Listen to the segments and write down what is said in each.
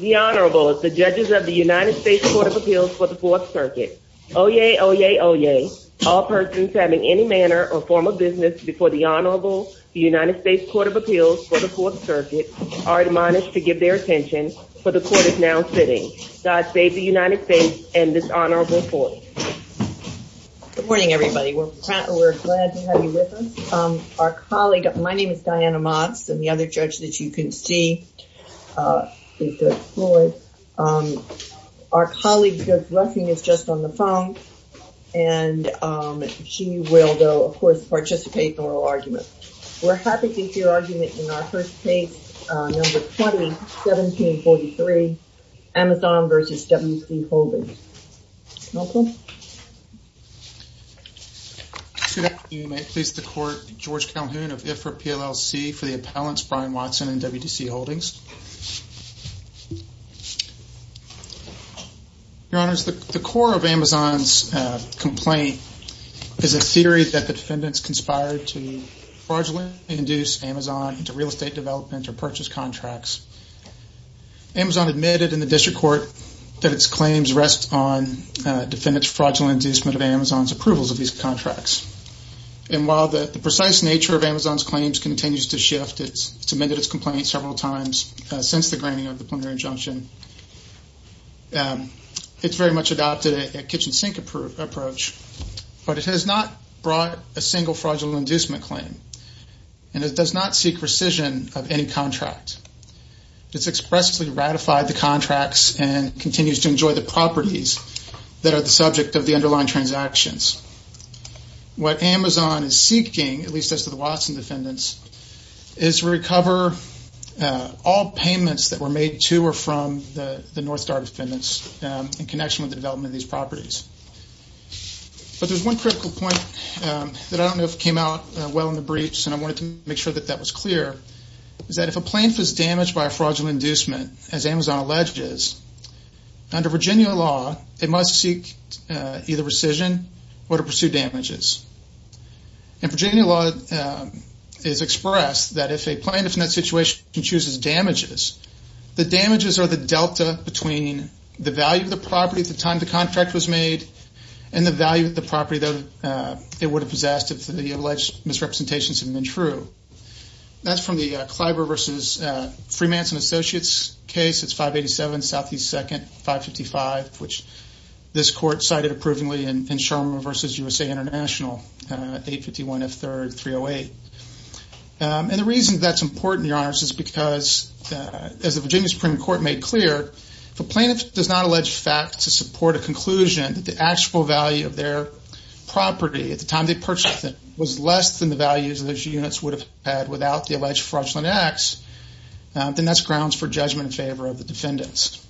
The Honorable, the Judges of the United States Court of Appeals for the 4th Circuit. Oyez, oyez, oyez, all persons having any manner or form of business before the Honorable, the United States Court of Appeals for the 4th Circuit, are admonished to give their attention for the Court is now sitting. God save the United States and this Honorable Court. Good morning, everybody. We're glad to have you with us. Our colleague, my name is Diana Motz, and the other judge that you can see is Doug Floyd. Our colleague, Doug Rushing, is just on the phone, and she will, though, of course, participate in oral argument. We're happy to hear argument in our first case, number 20, 1743, Amazon v. W.C. Holdings. Malcolm? Good afternoon. May it please the Court, George Calhoun of IFRA PLLC for the Appellants, Brian Watson and WDC Holdings. Your Honors, the core of Amazon's complaint is a theory that the defendants conspired to fraudulently induce Amazon into real estate development or purchase contracts. Amazon admitted in the District Court that its claims rest on defendants' fraudulent inducement of Amazon's approvals of these contracts. And while the precise nature of Amazon's claims continues to shift, it's submitted its complaints several times since the granting of the plenary injunction. It's very much adopted a kitchen sink approach, but it has not brought a single fraudulent inducement claim, and it does not seek rescission of any contract. It's expressly ratified the contracts and continues to enjoy the properties that are the subject of the underlying transactions. What Amazon is seeking, at least as to the Watson defendants, is to recover all payments that were made to or from the North Star defendants in connection with the development of these properties. But there's one critical point that I don't know if came out well in the briefs, and I wanted to make sure that that was clear, is that if a plaintiff is damaged by a fraudulent inducement, as Amazon alleges, under Virginia law, they must seek either rescission or to pursue damages. And Virginia law is expressed that if a plaintiff in that situation chooses damages, the damages are the delta between the value of the property at the time the contract was made and the value of the property that it would have possessed if the alleged misrepresentations had been true. That's from the Kleiber v. Freemanson Associates case, it's 587 S.E. 2nd, 555, which this court cited approvingly in Sherman v. USA International, 851 F. 3rd, 308. And the reason that's important, Your Honors, is because, as the Virginia Supreme Court made clear, if a plaintiff does not allege fact to support a conclusion that the actual value of their property at the time they purchased it was less than the values those units would have had without the alleged fraudulent acts, then that's grounds for judgment in favor of the defendants.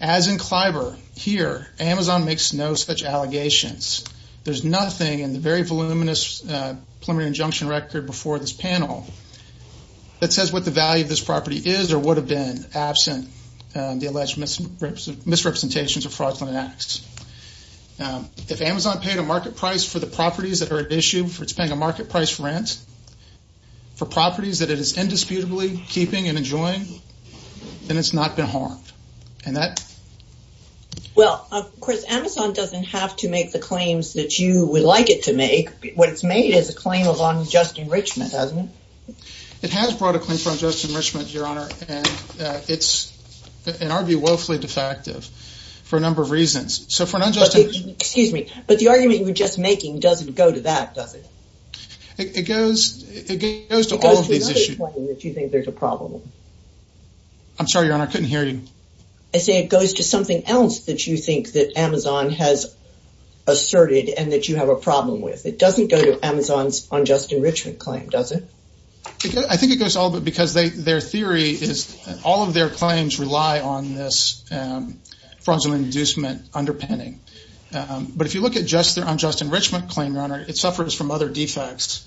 As in Kleiber, here, Amazon makes no such allegations. There's nothing in the very voluminous preliminary injunction record before this panel that says what the value of this property is or would have been absent the alleged misrepresentations of fraudulent acts. If Amazon paid a market price for the properties that are at issue, if it's paying a market price for rent, for properties that it is indisputably keeping and enjoying, then it's not been harmed. And that... Well, of course, Amazon doesn't have to make the claims that you would like it to make. What it's made is a claim of unjust enrichment, hasn't it? It has brought a claim for unjust enrichment, Your Honor, and it's, in our view, woefully defective for a number of reasons. So for an unjust... Excuse me. But the argument you're just making doesn't go to that, does it? It goes to all of these issues. It goes to another claim that you think there's a problem. I'm sorry, Your Honor. I couldn't hear you. I say it goes to something else that you think that Amazon has asserted and that you have a problem with. It doesn't go to Amazon's unjust enrichment claim, does it? I think it goes to all of it because their theory is... All of their claims rely on this fraudulent inducement underpinning. But if you look at just their unjust enrichment claim, Your Honor, it suffers from other defects.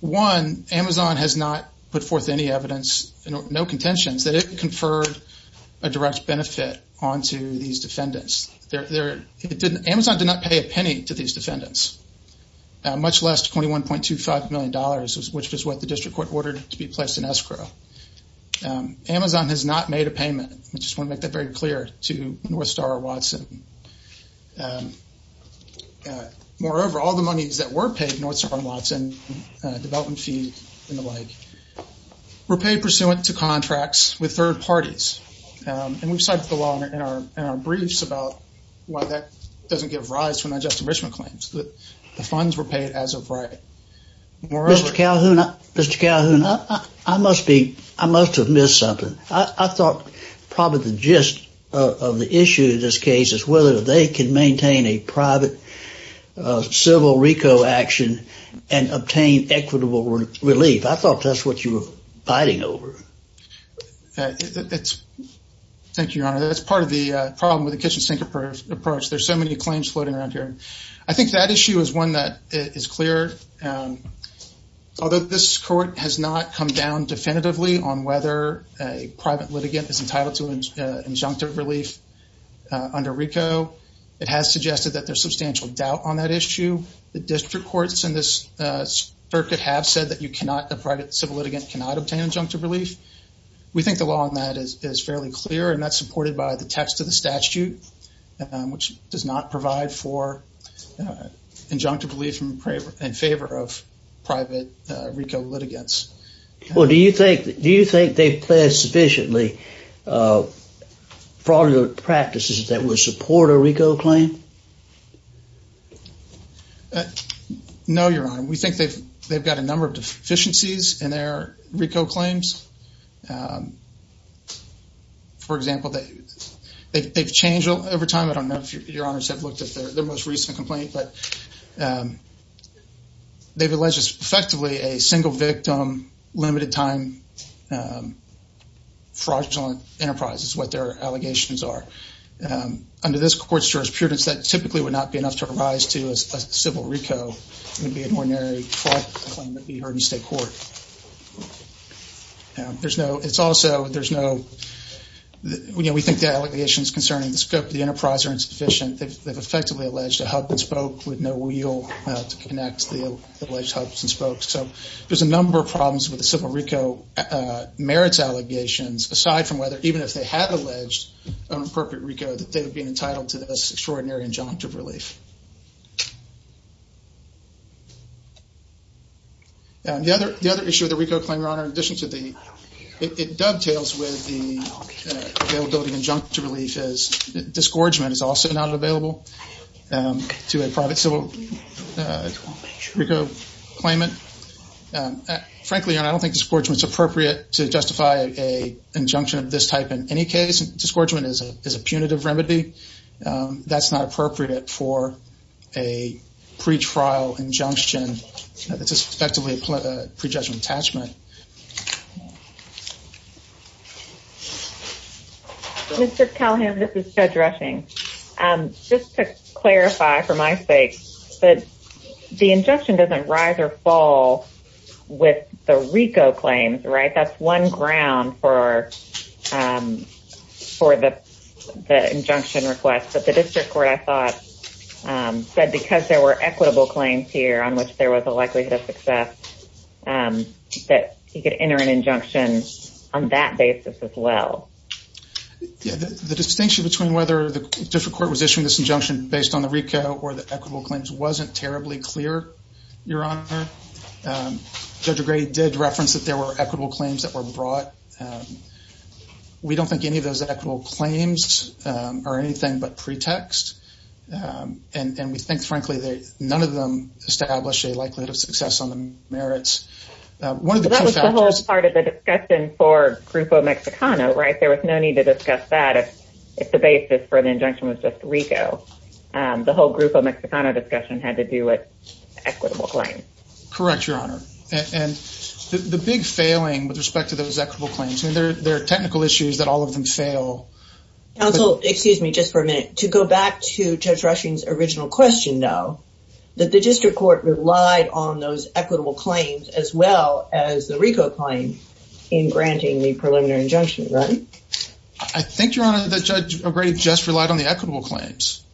One, Amazon has not put forth any evidence, no contentions, that it conferred a direct benefit onto these defendants. Amazon did not pay a penny to these defendants, much less $21.25 million, which was what the district court ordered to be placed in escrow. Amazon has not made a payment. I just want to make that very clear to North Star Watson. Moreover, all the monies that were paid, North Star Watson, development fee and the like, were paid pursuant to contracts with third parties. And we've cited the law in our briefs about why that doesn't give rise to unjust enrichment claims. The funds were paid as of right. Moreover... Mr. Calhoun, I must have missed something. I thought probably the gist of the issue in this case is whether they can maintain a private civil RICO action and obtain equitable relief. I thought that's what you were fighting over. Thank you, Your Honor. That's part of the problem with the kitchen sink approach. There's so many claims floating around here. I think that issue is one that is clear. Although this court has not come down definitively on whether a private litigant is entitled to injunctive relief under RICO, it has suggested that there's substantial doubt on that issue. The district courts in this circuit have said that a private civil litigant cannot obtain injunctive relief. We think the law on that is fairly clear, and that's supported by the text of the statute, which does not provide for injunctive relief in favor of private RICO litigants. Do you think they've pledged sufficiently fraudulent practices that would support a RICO claim? No, Your Honor. We think they've got a number of deficiencies in their RICO claims. For example, they've changed over time. I don't know if Your Honors have looked at their most recent complaint, but they've alleged effectively a single-victim, limited-time, fraudulent enterprise is what their allegations are. Under this court's jurisprudence, that typically would not be enough to rise to as a civil RICO. It would be an ordinary fraud claim that would be heard in state court. We think the allegations concerning the scope of the enterprise are insufficient. They've effectively alleged a hub and spoke with no wheel to connect the alleged hubs and spokes. There's a number of problems with the civil RICO merits allegations, aside from whether even if they had alleged an appropriate RICO, that they would be entitled to this extraordinary injunctive relief. The other issue with the RICO claim, Your Honor, in addition to the... It dovetails with the availability of injunctive relief as disgorgement is also not available to a private civil RICO claimant. Frankly, Your Honor, I don't think disgorgement is appropriate to justify an injunction of this type in any case. Disgorgement is a punitive remedy. That's not appropriate for a pretrial injunction that's effectively a prejudgment attachment. Mr. Callahan, this is Judge Rushing. Just to clarify for my sake, the injunction doesn't rise or fall with the RICO claims, right? I think that's one ground for the injunction request, but the district court, I thought, said because there were equitable claims here on which there was a likelihood of success, that he could enter an injunction on that basis as well. The distinction between whether the district court was issuing this injunction based on the RICO or the equitable claims wasn't terribly clear, Your Honor. Judge Gray did reference that there were equitable claims that were brought. We don't think any of those equitable claims are anything but pretext, and we think, frankly, none of them establish a likelihood of success on the merits. That was the whole part of the discussion for Grupo Mexicano, right? There was no need to discuss that if the basis for the injunction was just RICO. The whole Grupo Mexicano discussion had to do with equitable claims. Correct, Your Honor. The big failing with respect to those equitable claims, there are technical issues that all of them fail. Counsel, excuse me just for a minute. To go back to Judge Rushing's original question, though, that the district court relied on those equitable claims as well as the RICO claim in granting the preliminary injunction, right? I think, Your Honor, that Judge Gray just relied on the equitable claims.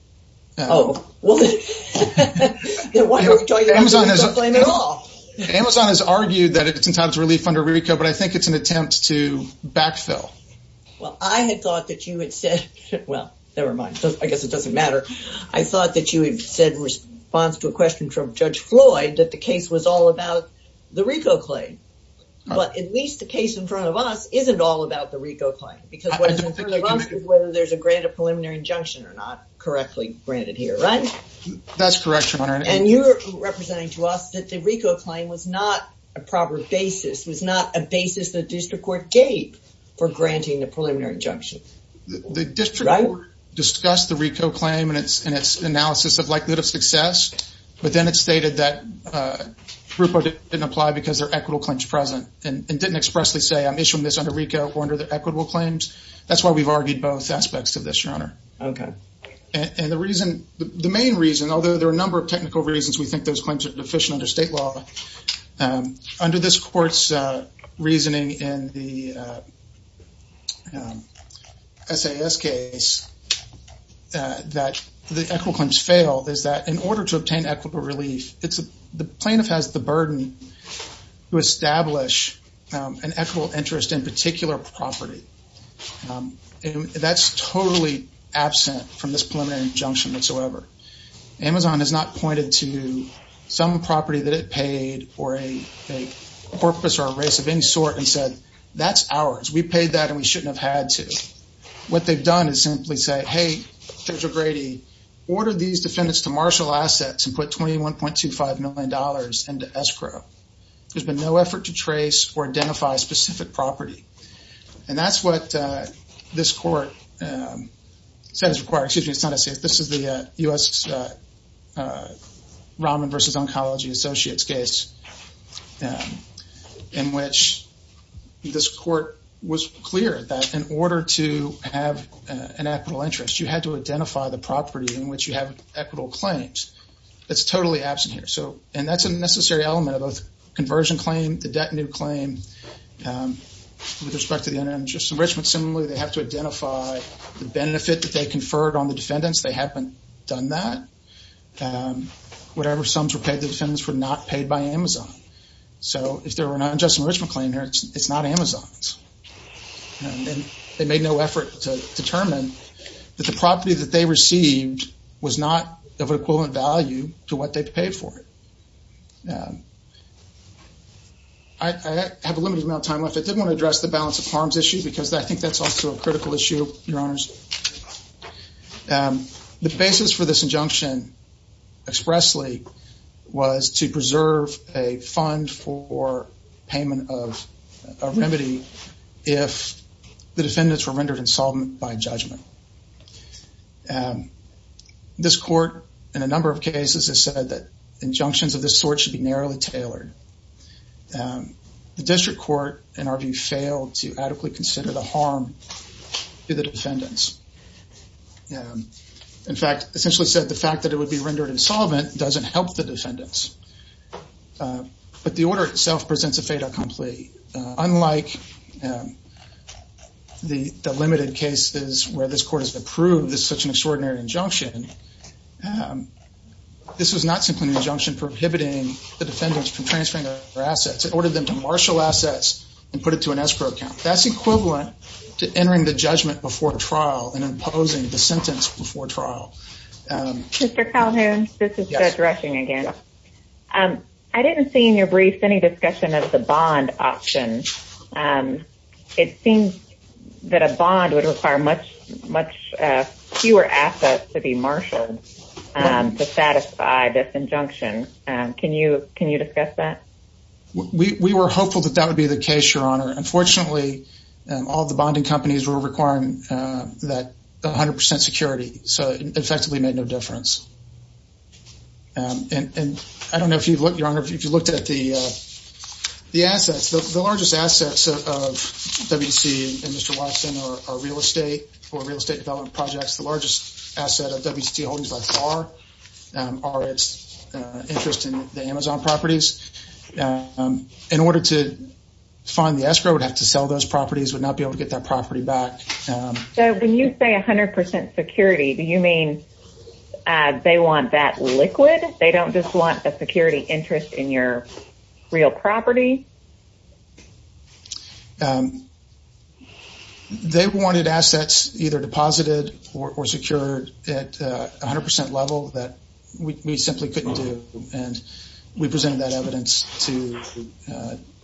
Oh. Well, then why are we talking about equitable claims at all? Amazon has argued that it's entitled to relief under RICO, but I think it's an attempt to backfill. Well, I had thought that you had said – well, never mind. I guess it doesn't matter. I thought that you had said in response to a question from Judge Floyd that the case was all about the RICO claim. But at least the case in front of us isn't all about the RICO claim because what is in front of us is whether there's a grant of preliminary injunction or not correctly granted here, right? That's correct, Your Honor. And you're representing to us that the RICO claim was not a proper basis, was not a basis the district court gave for granting the preliminary injunction, right? The district court discussed the RICO claim and its analysis of likelihood of success, but then it stated that RUPA didn't apply because there are equitable claims present and didn't expressly say, I'm issuing this under RICO or under the equitable claims. That's why we've argued both aspects of this, Your Honor. Okay. And the reason – the main reason, although there are a number of technical reasons we think those claims are deficient under state law, under this court's reasoning in the that the equitable claims fail is that in order to obtain equitable relief, it's – the plaintiff has the burden to establish an equitable interest in a particular property. That's totally absent from this preliminary injunction whatsoever. Amazon has not pointed to some property that it paid or a corpus or a race of any sort and said, that's ours. We paid that and we shouldn't have had to. What they've done is simply say, hey, Judge O'Grady, order these defendants to marshal assets and put $21.25 million into escrow. There's been no effort to trace or identify specific property. And that's what this court said is required. Excuse me. It's not as safe. This is the U.S. Rahman versus Oncology Associates case in which this court was clear that in order to have an equitable interest, you had to identify the property in which you have equitable claims. That's totally absent here. So – and that's a necessary element of both conversion claim, the debt and new claim with respect to the unjust enrichment. Similarly, they have to identify the benefit that they conferred on the defendants. They haven't done that. Whatever sums were paid to defendants were not paid by Amazon. So if there were an unjust enrichment claim here, it's not Amazon's. And they made no effort to determine that the property that they received was not of an equivalent value to what they paid for it. I have a limited amount of time left. I did want to address the balance of harms issue because I think that's also a critical issue, Your Honors. The basis for this injunction expressly was to preserve a fund for payment of a remedy if the defendants were rendered insolvent by judgment. This court in a number of cases has said that injunctions of this sort should be narrowly tailored. The district court, in our view, failed to adequately consider the harm to the defendants. In fact, essentially said the fact that it would be rendered insolvent doesn't help the defendants. But the order itself presents a fait accompli. Unlike the limited cases where this court has approved such an extraordinary injunction, this was not simply an injunction prohibiting the defendants from transferring their assets. It ordered them to marshal assets and put it to an escrow account. That's equivalent to entering the judgment before trial and imposing the sentence before trial. Mr. Calhoun, this is Judge Rushing again. I didn't see in your brief any discussion of the bond option. It seems that a bond would require much fewer assets to be marshaled to satisfy this injunction. Can you discuss that? We were hopeful that that would be the case, Your Honor. Unfortunately, all the bonding companies were requiring that 100 percent security. So it effectively made no difference. And I don't know if you've looked, Your Honor, if you've looked at the assets. The largest assets of WTC and Mr. Watson are real estate or real estate development projects. The largest asset of WTC holdings by far are its interest in the Amazon properties. In order to find the escrow, we'd have to sell those properties, we'd not be able to get that property back. So when you say 100 percent security, do you mean they want that liquid? They don't just want a security interest in your real property? They wanted assets either deposited or secured at 100 percent level that we simply couldn't do. And we presented that evidence to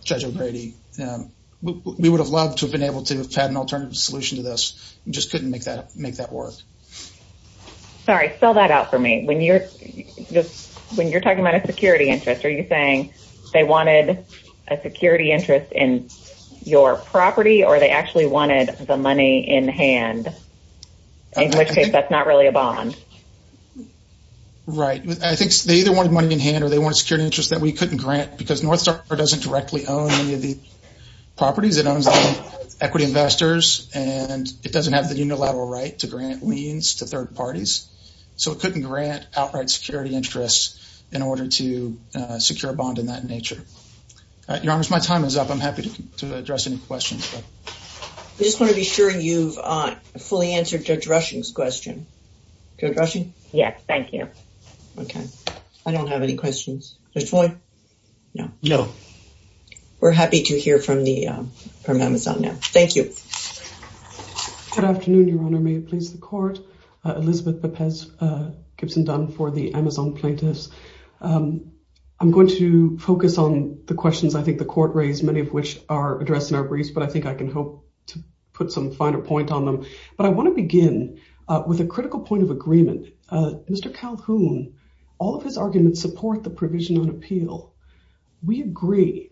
Judge O'Grady. We would have loved to have been able to have had an alternative solution to this. We just couldn't make that work. Sorry, spell that out for me. When you're talking about a security interest, are you saying they wanted a security interest in your property or they actually wanted the money in hand, in which case that's not really a bond? Right. I think they either wanted money in hand or they wanted security interest that we couldn't grant because North Star doesn't directly own any of the properties. It owns the equity investors and it doesn't have the unilateral right to grant liens to third parties. So it couldn't grant outright security interest in order to secure a bond in that nature. Your Honors, my time is up. I'm happy to address any questions. I just want to be sure you've fully answered Judge Rushing's question. Judge Rushing? Yes, thank you. Okay. I don't have any questions. Judge Boyd? No. We're happy to hear from Amazon now. Thank you. Good afternoon, Your Honor. May it please the Court. Elizabeth Pepez Gibson Dunn for the Amazon Plaintiffs. I'm going to focus on the questions I think the Court raised, many of which are addressed in our briefs, but I think I can hope to put some finer point on them. But I want to begin with a critical point of agreement. Mr. Calhoun, all of his arguments support the provision on appeal. We agree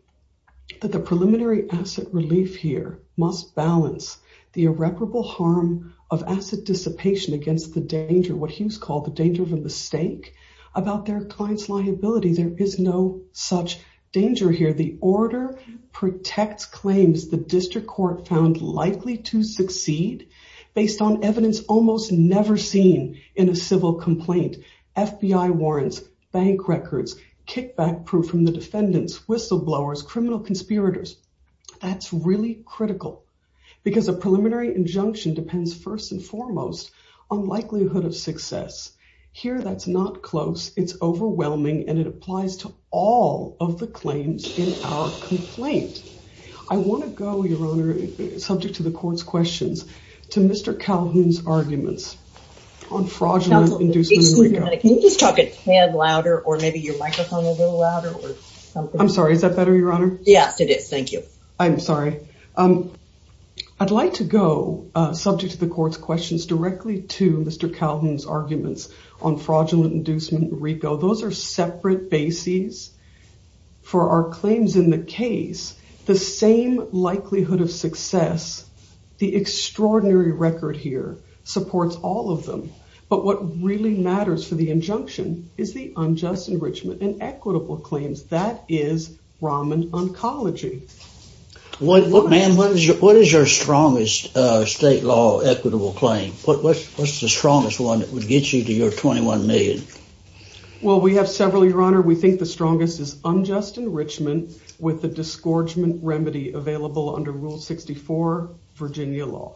that the preliminary asset relief here must balance the irreparable harm of asset dissipation against the danger, what he's called the danger of a mistake, about their client's liability. There is no such danger here. The order protects claims the district court found likely to succeed based on evidence almost never seen in a civil complaint, FBI warrants, bank records, kickback proof from the defendants, whistleblowers, criminal conspirators. That's really critical because a preliminary injunction depends first and foremost on likelihood of success. Here that's not close, it's overwhelming, and it applies to all of the claims in our complaint. I want to go, Your Honor, subject to the Court's questions, to Mr. Calhoun's arguments on fraudulent inducing... Excuse me, can you just talk a tad louder or maybe your microphone a little louder? I'm sorry, is that better, Your Honor? Yes, it is. Thank you. I'm sorry. I'd like to go, subject to the Court's questions, directly to Mr. Calhoun's arguments on fraudulent inducing RICO. Those are separate bases for our claims in the case. The same likelihood of success, the extraordinary record here supports all of them. But what really matters for the injunction is the unjust enrichment and equitable claims. That is Raman oncology. What, ma'am, what is your strongest state law equitable claim? What's the strongest one that would get you to your $21 million? Well, we have several, Your Honor. We think the strongest is unjust enrichment with the disgorgement remedy available under Rule 64, Virginia law.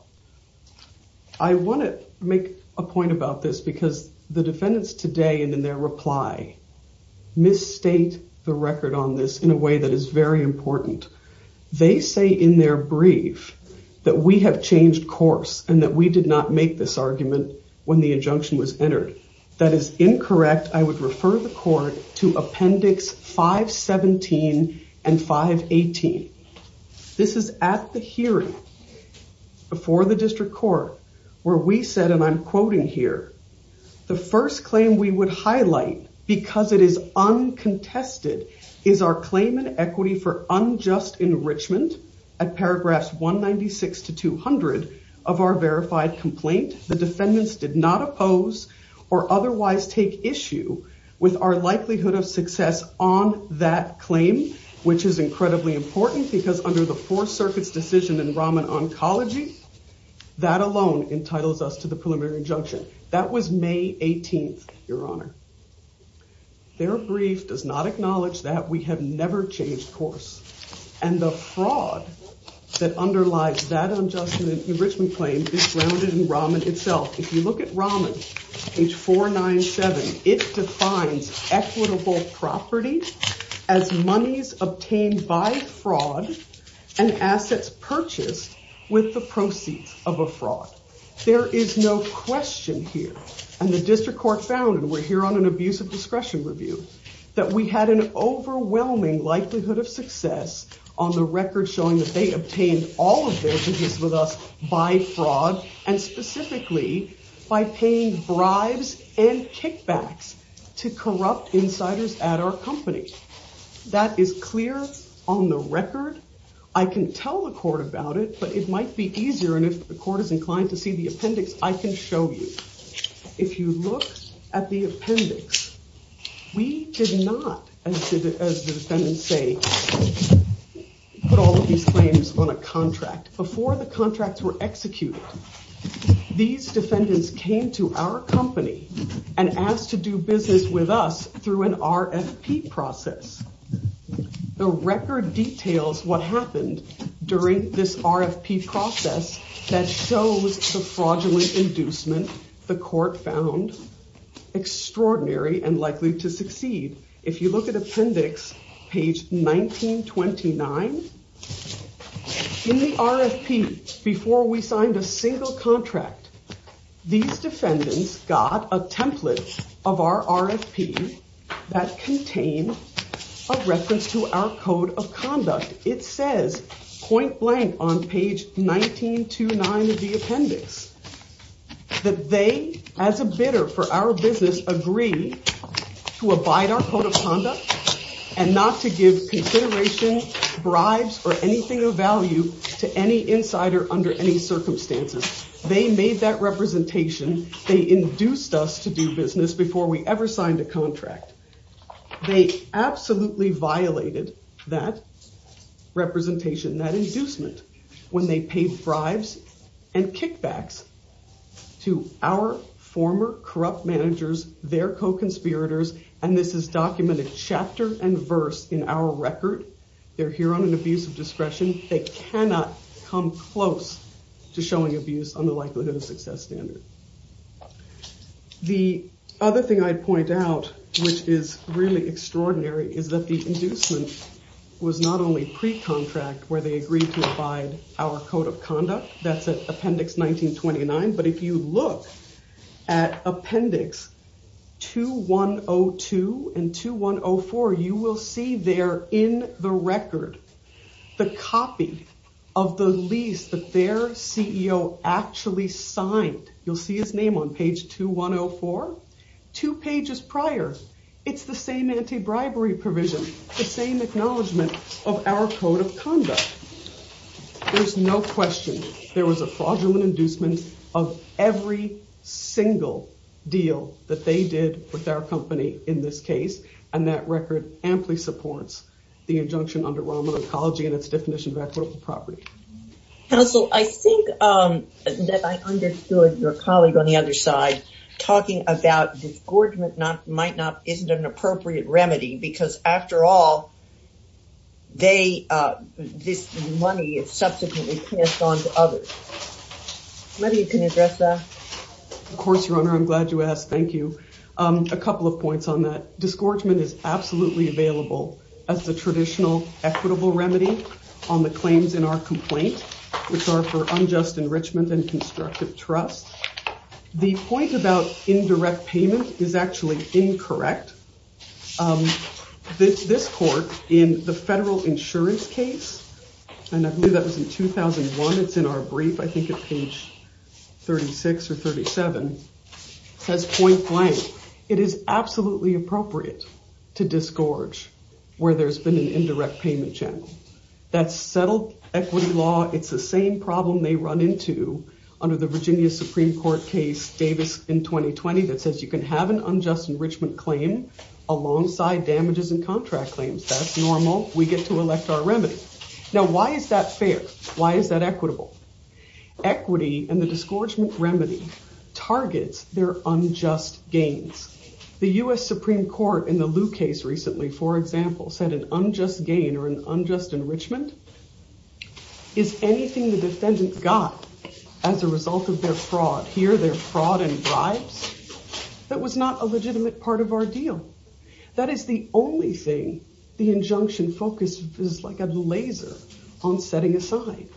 I want to make a point about this because the defendants today and in their reply misstate the record on this in a way that is very important. They say in their brief that we have changed course and that we did not make this argument when the injunction was entered. That is incorrect. I would refer the Court to Appendix 517 and 518. This is at the hearing before the district court where we said, and I'm quoting here, the first claim we would highlight because it is uncontested is our claim in equity for unjust enrichment at paragraphs 196 to 200 of our verified complaint. The defendants did not oppose or otherwise take issue with our likelihood of success on that claim, which is incredibly important because under the Fourth Circuit's decision in Raman oncology, that alone entitles us to the preliminary injunction. That was May 18th, Your Honor. Their brief does not acknowledge that we have never changed course and the fraud that underlies that unjust enrichment claim is grounded in Raman itself. If you look at Raman, page 497, it defines equitable property as monies obtained by fraud and assets purchased with the proceeds of a fraud. There is no question here, and the district court found, and we're here on an abuse of discretion review, that we had an overwhelming likelihood of success on the record showing that they obtained all of their business with us by fraud and specifically by paying bribes and kickbacks to corrupt insiders at our company. That is clear on the record. I can tell the court about it, but it might be easier, and if the court is inclined to see the appendix, I can show you. If you look at the appendix, we did not, as the defendants say, put all of these claims on a contract. Before the contracts were executed, these defendants came to our company and asked to do business with us through an RFP process. The record details what happened during this RFP process that shows the fraudulent inducement the court found extraordinary and likely to succeed. If you look at appendix page 1929, in the RFP, before we signed a single contract, these defendants got a template of our RFP that contained a reference to our code of conduct. It says, point blank, on page 1929 of the appendix, that they, as a bidder for our business, agreed to abide our code of conduct and not to give consideration, bribes, or anything of value to any insider under any circumstances. They made that representation. They induced us to do business before we ever signed a contract. They absolutely violated that representation, that inducement, when they paid bribes and kickbacks to our former corrupt managers, their co-conspirators. And this is documented chapter and verse in our record. They're here on an abuse of discretion. They cannot come close to showing abuse on the likelihood of success standard. The other thing I'd point out, which is really extraordinary, is that the inducement was not only pre-contract, where they agreed to abide our code of conduct, that's at appendix 1929, but if you look at appendix 2102 and 2104, you will see there in the record the copy of the lease that their CEO actually signed. You'll see his name on page 2104. Two pages prior, it's the same anti-bribery provision, the same acknowledgement of our code of conduct. There's no question. There was a fraudulent inducement of every single deal that they did with our company in this case. And that record amply supports the injunction under Roman Oncology and its definition of equitable property. Counsel, I think that I understood your colleague on the other side talking about disgorgement might not, isn't an appropriate remedy, because after all, this money is subsequently passed on to others. Maybe you can address that. Of course, Your Honor. I'm glad you asked. Thank you. A couple of points on that. Disgorgement is absolutely available as the traditional equitable remedy on the claims in our complaint, which are for unjust enrichment and constructive trust. The point about indirect payment is actually incorrect. This court in the federal insurance case, and I believe that was in 2001, it's in our brief, I think at page 36 or 37, says point blank. It is absolutely appropriate to disgorge where there's been an indirect payment channel. That's settled equity law. It's the same problem they run into under the Virginia Supreme Court case Davis in 2020 that says you can have an unjust enrichment claim alongside damages and contract claims. That's normal. We get to elect our remedy. Now, why is that fair? Why is that equitable? Equity and the disgorgement remedy targets their unjust gains. The US Supreme Court in the Lou case recently, for example, said an unjust gain or an unjust enrichment is anything the defendant got as a result of their fraud. Here they're fraud and bribes. That was not a legitimate part of our deal. That is the only thing the injunction focus is like a laser on setting aside.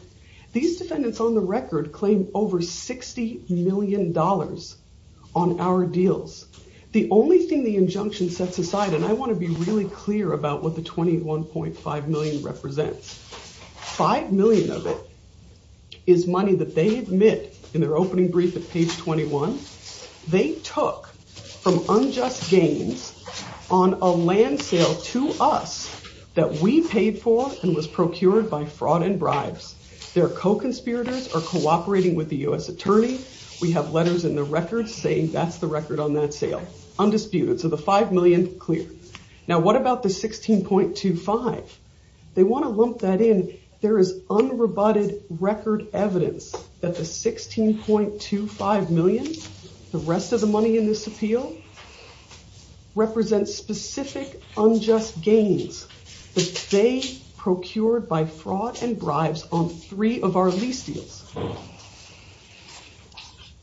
These defendants on the record claim over $60 million on our deals. The only thing the injunction sets aside, and I want to be really clear about what the 21.5 million represents. Five million of it is money that they admit in their opening brief at page 21. They took from unjust gains on a land sale to us that we paid for and was procured by fraud and bribes. Their co-conspirators are cooperating with the US attorney. We have letters in the record saying that's the record on that sale. Undisputed. So the five million clear. Now, what about the 16.25? They want to lump that in. There is unrebutted record evidence that the 16.25 million, the rest of the money in this appeal, represents specific unjust gains that they procured by fraud and bribes on three of our lease deals.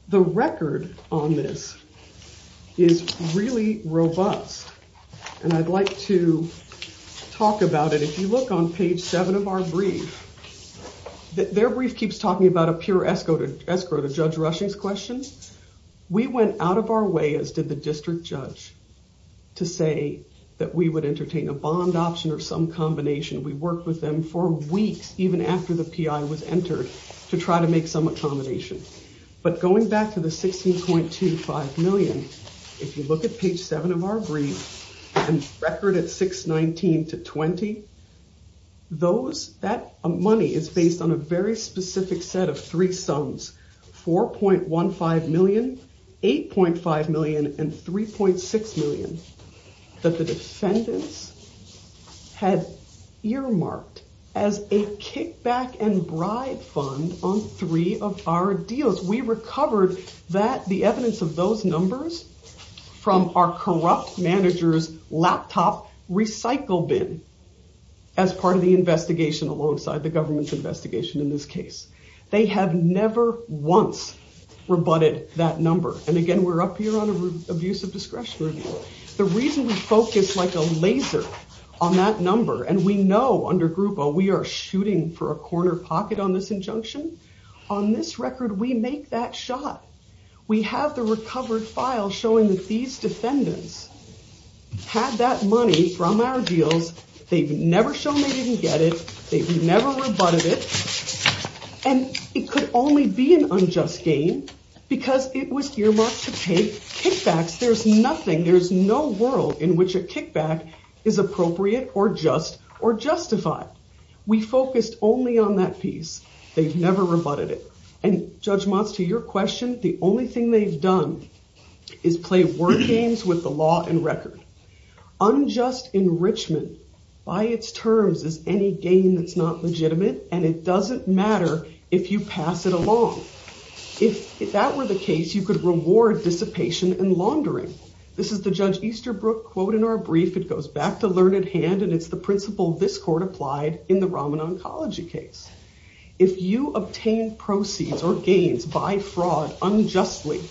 The record on this is really robust, and I'd like to talk about it. If you look on page seven of our brief, their brief keeps talking about a pure escrow to escrow to Judge Rushing's questions. We went out of our way, as did the district judge, to say that we would entertain a bond option or some combination. We worked with them for weeks, even after the PI was entered, to try to make some accommodation. But going back to the 16.25 million, if you look at page seven of our brief and record at 619 to 20, that money is based on a very specific set of three sums. 4.15 million, 8.5 million, and 3.6 million that the defendants had earmarked as a kickback and bribe fund on three of our deals. We recovered the evidence of those numbers from our corrupt manager's laptop recycle bin as part of the investigation alongside the government's investigation in this case. They have never once rebutted that number. And again, we're up here on abuse of discretion. The reason we focus like a laser on that number, and we know under Grupo we are shooting for a corner pocket on this injunction, on this record we make that shot. We have the recovered file showing that these defendants had that money from our deals. They've never shown they didn't get it. They've never rebutted it. And it could only be an unjust gain because it was earmarked to pay kickbacks. There's nothing, there's no world in which a kickback is appropriate or just or justified. We focused only on that piece. They've never rebutted it. And Judge Motz, to your question, the only thing they've done is play word games with the law and record. Unjust enrichment by its terms is any gain that's not legitimate, and it doesn't matter if you pass it along. If that were the case, you could reward dissipation and laundering. This is the Judge Easterbrook quote in our brief. It goes back to learned hand, and it's the principle this court applied in the Raman Oncology case. If you obtain proceeds or gains by fraud unjustly,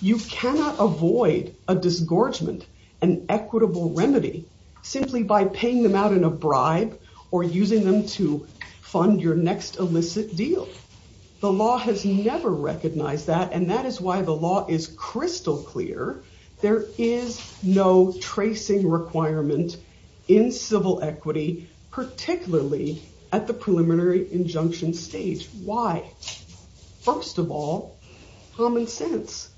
you cannot avoid a disgorgement, an equitable remedy, simply by paying them out in a bribe or using them to fund your next illicit deal. The law has never recognized that, and that is why the law is crystal clear. There is no tracing requirement in civil equity, particularly at the preliminary injunction stage. Why? First of all, common sense.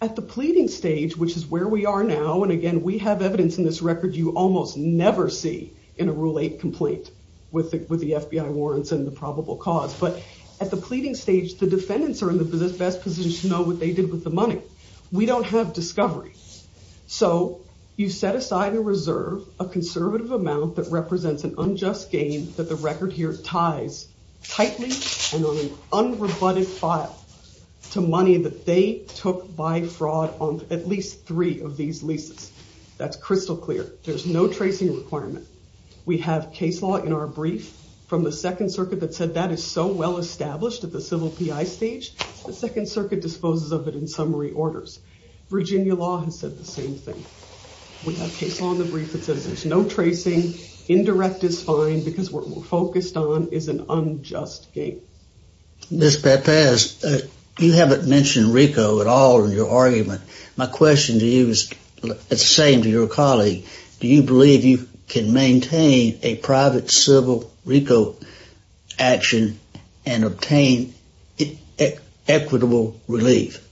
At the pleading stage, which is where we are now, and again, we have evidence in this record you almost never see in a Rule 8 complaint, with the FBI warrants and the probable cause. But at the pleading stage, the defendants are in the best position to know what they did with the money. We don't have discovery. So you set aside a reserve, a conservative amount that represents an unjust gain that the record here ties tightly and on an unrebutted file to money that they took by fraud on at least three of these leases. That's crystal clear. There's no tracing requirement. We have case law in our brief from the Second Circuit that said that is so well established at the civil PI stage, the Second Circuit disposes of it in summary orders. Virginia law has said the same thing. We have case law in the brief that says there's no tracing. Indirect is fine because what we're focused on is an unjust gain. Ms. Pepez, you haven't mentioned RICO at all in your argument. My question to you is the same to your colleague. Do you believe you can maintain a private civil RICO action and obtain equitable relief?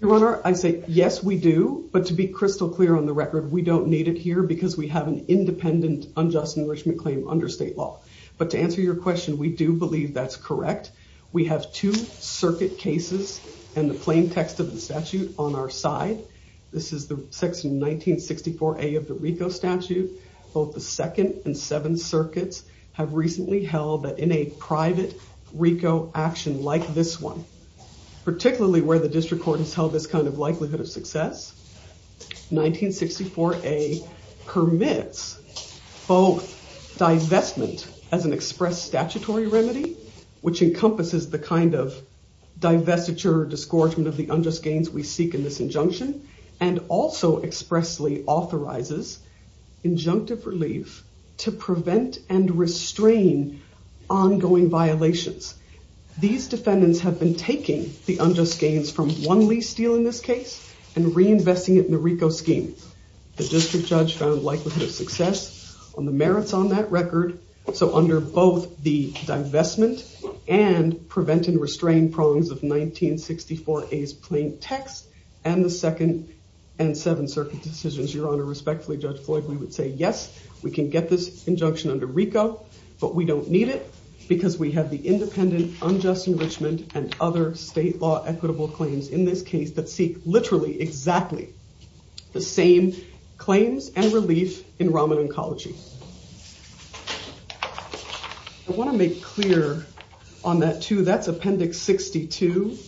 Your Honor, I say yes, we do. But to be crystal clear on the record, we don't need it here because we have an independent unjust enrichment claim under state law. But to answer your question, we do believe that's correct. We have two circuit cases and the plain text of the statute on our side. This is the section 1964A of the RICO statute. Both the Second and Seventh Circuits have recently held that in a private RICO action like this one, particularly where the district court has held this kind of likelihood of success, 1964A permits both divestment as an express statutory remedy, which encompasses the kind of divestiture or disgorgement of the unjust gains we seek in this injunction, and also expressly authorizes injunctive relief to prevent and restrain ongoing violations. These defendants have been taking the unjust gains from one lease deal in this case and reinvesting it in the RICO scheme. The district judge found likelihood of success on the merits on that record. So under both the divestment and prevent and restrain prongs of 1964A's plain text and the Second and Seventh Circuit decisions, Your Honor, respectfully, Judge Floyd, we would say yes, we can get this injunction under RICO, but we don't need it because we have the independent unjust enrichment and other state law equitable claims in this case that seek literally exactly the same claims and relief in Raman Oncology. I want to make clear on that, too, that's Appendix 62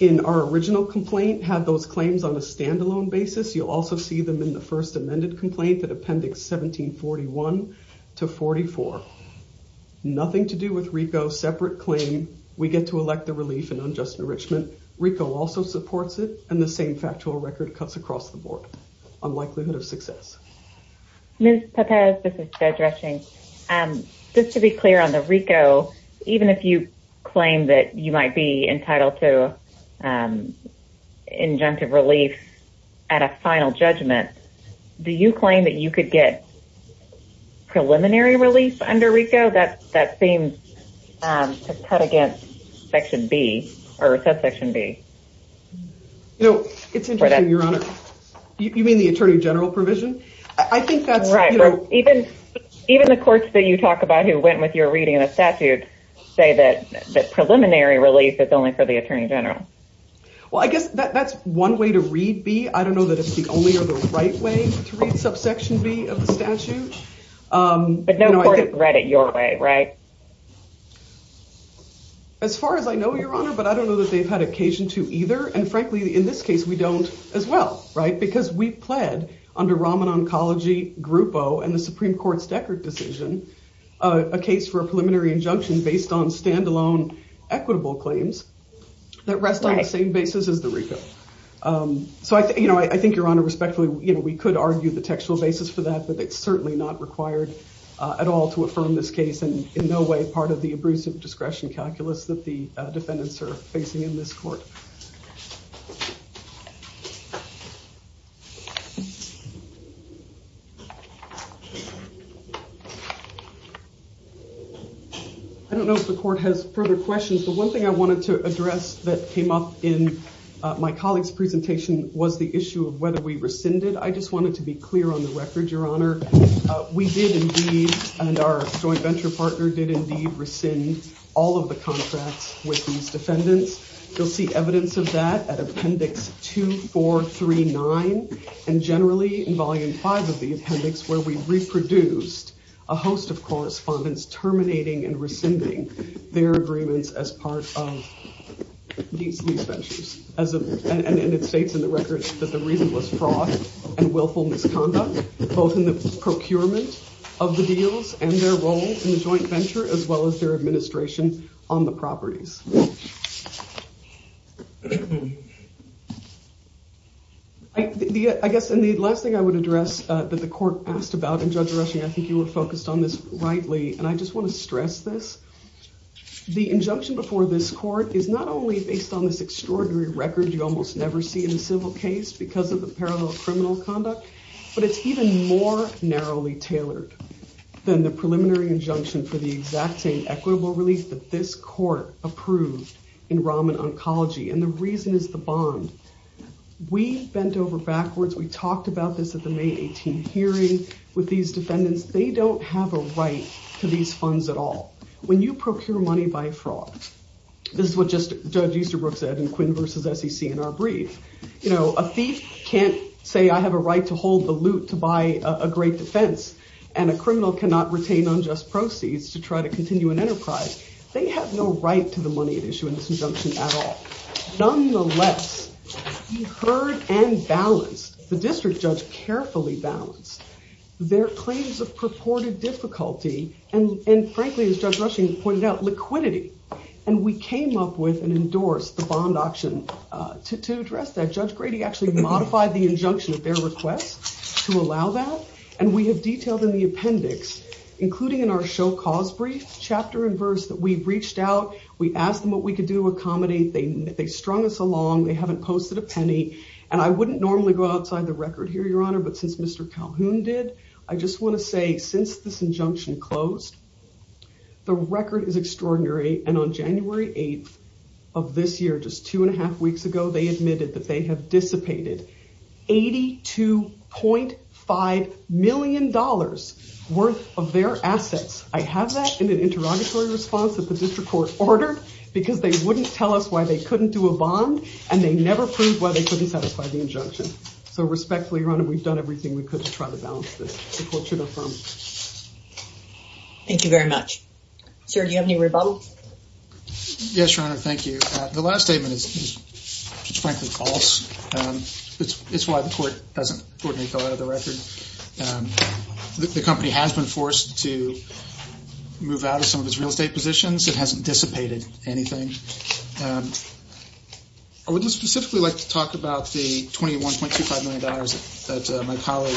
in our original complaint had those claims on a standalone basis. You'll also see them in the first amended complaint that Appendix 1741 to 44. Nothing to do with RICO's separate claim. We get to elect the relief and unjust enrichment. RICO also supports it. And the same factual record cuts across the board on likelihood of success. Ms. Pepez, this is Judge Rushing. Just to be clear on the RICO, even if you claim that you might be entitled to injunctive relief at a final judgment, do you claim that you could get preliminary relief under RICO? That seems to cut against Section B or subsection B. You know, it's interesting, Your Honor. You mean the attorney general provision? I think that's right. Even the courts that you talk about who went with your reading of the statute say that preliminary relief is only for the attorney general. Well, I guess that's one way to read B. I don't know that it's the only or the right way to read subsection B of the statute. But no court has read it your way, right? As far as I know, Your Honor. But I don't know that they've had occasion to either. And frankly, in this case, we don't as well. Right. Because we pled under Raman Oncology, Grupo and the Supreme Court's Deckard decision, a case for a preliminary injunction based on standalone equitable claims that rest on the same basis as the RICO. So, you know, I think, Your Honor, respectfully, we could argue the textual basis for that, I don't know if the court has further questions. The one thing I wanted to address that came up in my colleague's presentation was the issue of whether we rescinded. I just wanted to be clear on the record, Your Honor. We did indeed. And our joint venture partner did indeed rescind all of the contracts with these defendants. You'll see evidence of that at Appendix 2439 and generally in Volume 5 of the appendix, where we reproduced a host of correspondence terminating and rescinding their agreements as part of these ventures. And it states in the record that the reason was fraud and willful misconduct, both in the procurement of the deals and their role in the joint venture, as well as their administration on the properties. I guess the last thing I would address that the court asked about, and Judge Rushing, I think you were focused on this rightly, and I just want to stress this. The injunction before this court is not only based on this extraordinary record, you almost never see in a civil case because of the parallel criminal conduct, but it's even more narrowly tailored than the preliminary injunction for the exact same equitable relief that this court approved in Rahman Oncology. And the reason is the bond. We bent over backwards. We talked about this at the May 18 hearing with these defendants. They don't have a right to these funds at all. When you procure money by fraud, this is what Judge Easterbrook said in Quinn v. SEC in our brief, a thief can't say I have a right to hold the loot to buy a great defense, and a criminal cannot retain unjust proceeds to try to continue an enterprise. They have no right to the money at issue in this injunction at all. Nonetheless, we heard and balanced, the district judge carefully balanced their claims of purported difficulty, and frankly, as Judge Rushing pointed out, liquidity. And we came up with and endorsed the bond auction to address that. Judge Grady actually modified the injunction at their request to allow that, and we have detailed in the appendix, including in our show cause brief, chapter and verse, that we reached out, we asked them what we could do to accommodate. They strung us along. They haven't posted a penny. And I wouldn't normally go outside the record here, Your Honor, but since Mr. Calhoun did, I just want to say since this injunction closed, the record is extraordinary, and on January 8th of this year, just two and a half weeks ago, they admitted that they have dissipated $82.5 million worth of their assets. I have that in an interrogatory response that the district court ordered, because they wouldn't tell us why they couldn't do a bond, so respectfully, Your Honor, we've done everything we could to try to balance this. The court should affirm. Thank you very much. Sir, do you have any rebuttals? Yes, Your Honor, thank you. The last statement is, frankly, false. It's why the court doesn't go out of the record. The company has been forced to move out of some of its real estate positions. It hasn't dissipated anything. I would just specifically like to talk about the $21.25 million that my colleague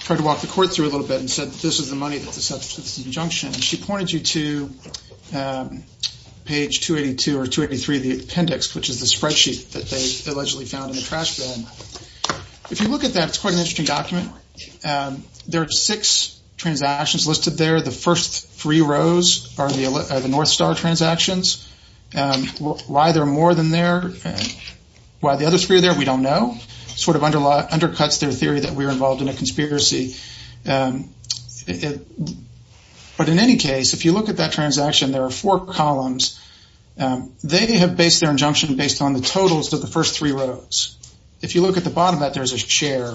tried to walk the court through a little bit and said that this is the money that subsists the injunction. She pointed you to page 282 or 283 of the appendix, which is the spreadsheet that they allegedly found in the trash bin. If you look at that, it's quite an interesting document. There are six transactions listed there. The first three rows are the North Star transactions. Why there are more than there, why the other three are there, we don't know. It sort of undercuts their theory that we were involved in a conspiracy. But in any case, if you look at that transaction, there are four columns. They have based their injunction based on the totals of the first three rows. If you look at the bottom of that, there's a share.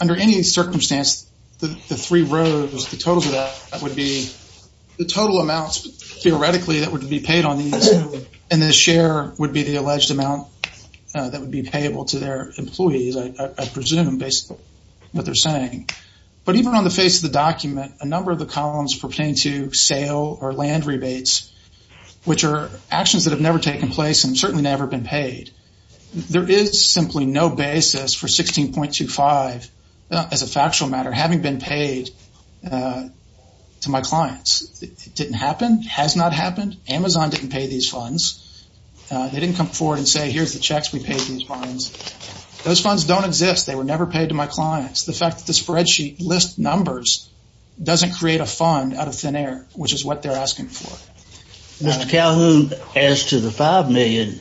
Under any circumstance, the three rows, the totals of that would be the total amounts theoretically that would be paid on these, and the share would be the alleged amount that would be payable to their employees, I presume, based on what they're saying. But even on the face of the document, a number of the columns pertain to sale or land rebates, which are actions that have never taken place and certainly never been paid. There is simply no basis for 16.25, as a factual matter, having been paid to my clients. It didn't happen, has not happened. Amazon didn't pay these funds. They didn't come forward and say, here's the checks, we paid these funds. Those funds don't exist. They were never paid to my clients. The fact that the spreadsheet lists numbers doesn't create a fund out of thin air, which is what they're asking for. Mr. Calhoun, as to the $5 million,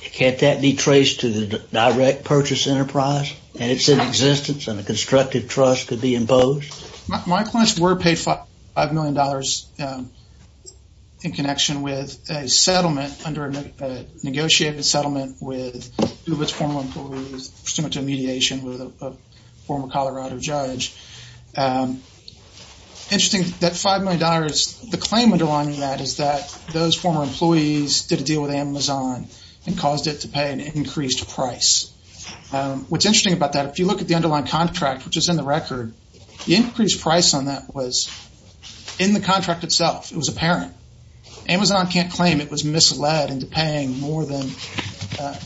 can't that be traced to the direct purchase enterprise, and it's in existence and a constructive trust could be imposed? My clients were paid $5 million in connection with a settlement, under a negotiated settlement with UBIT's former employees, pursuant to a mediation with a former Colorado judge. Interesting, that $5 million, the claim underlying that is that those former employees did a deal with Amazon and caused it to pay an increased price. What's interesting about that, if you look at the underlying contract, which is in the record, the increased price on that was in the contract itself. It was apparent. Amazon can't claim it was misled into paying more than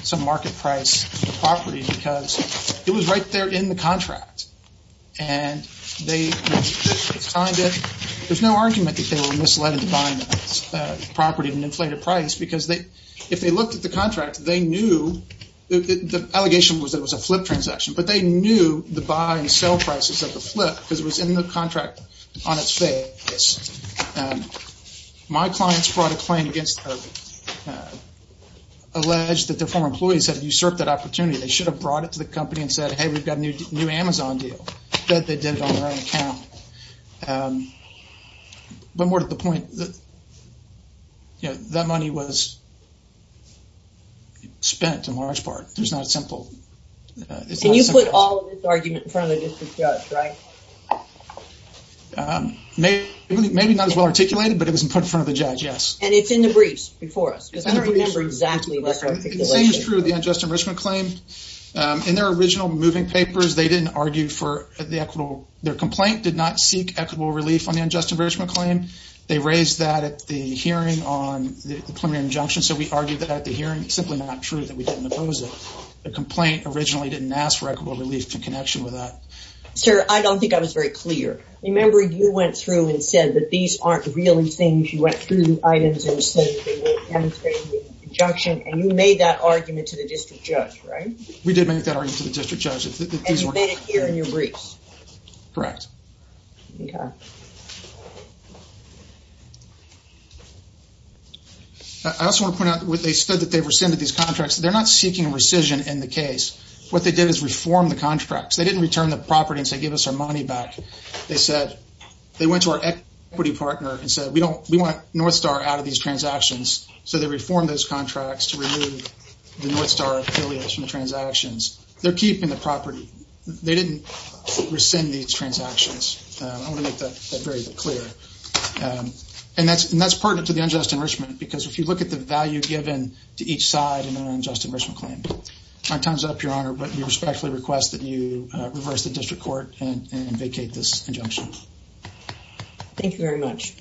some market price for the property because it was right there in the contract. And they signed it. There's no argument that they were misled into buying the property at an inflated price because if they looked at the contract, they knew, the allegation was that it was a flip transaction, but they knew the buy and sell prices of the flip because it was in the contract on its face. My clients brought a claim against UBIT, alleged that their former employees had usurped that opportunity. They should have brought it to the company and said, hey, we've got a new Amazon deal. But they did it on their own account. But more to the point, that money was spent in large part. There's not a simple... And you put all of this argument in front of the district judge, right? Maybe not as well articulated, but it was put in front of the judge, yes. And it's in the briefs before us. Because I don't remember exactly what's articulated. The same is true of the unjust enrichment claim. In their original moving papers, they didn't argue for the equitable... Their complaint did not seek equitable relief on the unjust enrichment claim. They raised that at the hearing on the preliminary injunction. So we argued that at the hearing. It's simply not true that we didn't oppose it. The complaint originally didn't ask for equitable relief in connection with that. Sir, I don't think I was very clear. Remember, you went through and said that these aren't really things. You went through the items and said that they weren't demonstrating the injunction. And you made that argument to the district judge, right? We did make that argument to the district judge. And you made it here in your briefs? Correct. I also want to point out, they said that they rescinded these contracts. They're not seeking rescission in the case. What they did is reform the contracts. They didn't return the property and say, give us our money back. They went to our equity partner and said, we want Northstar out of these transactions. So they reformed those contracts to remove the Northstar affiliates from the transactions. They're keeping the property. They didn't rescind these transactions. I want to make that very clear. And that's pertinent to the unjust enrichment. Because if you look at the value given to each side in an unjust enrichment claim, My time's up, Your Honor. But we respectfully request that you reverse the district court and vacate this injunction. Thank you very much.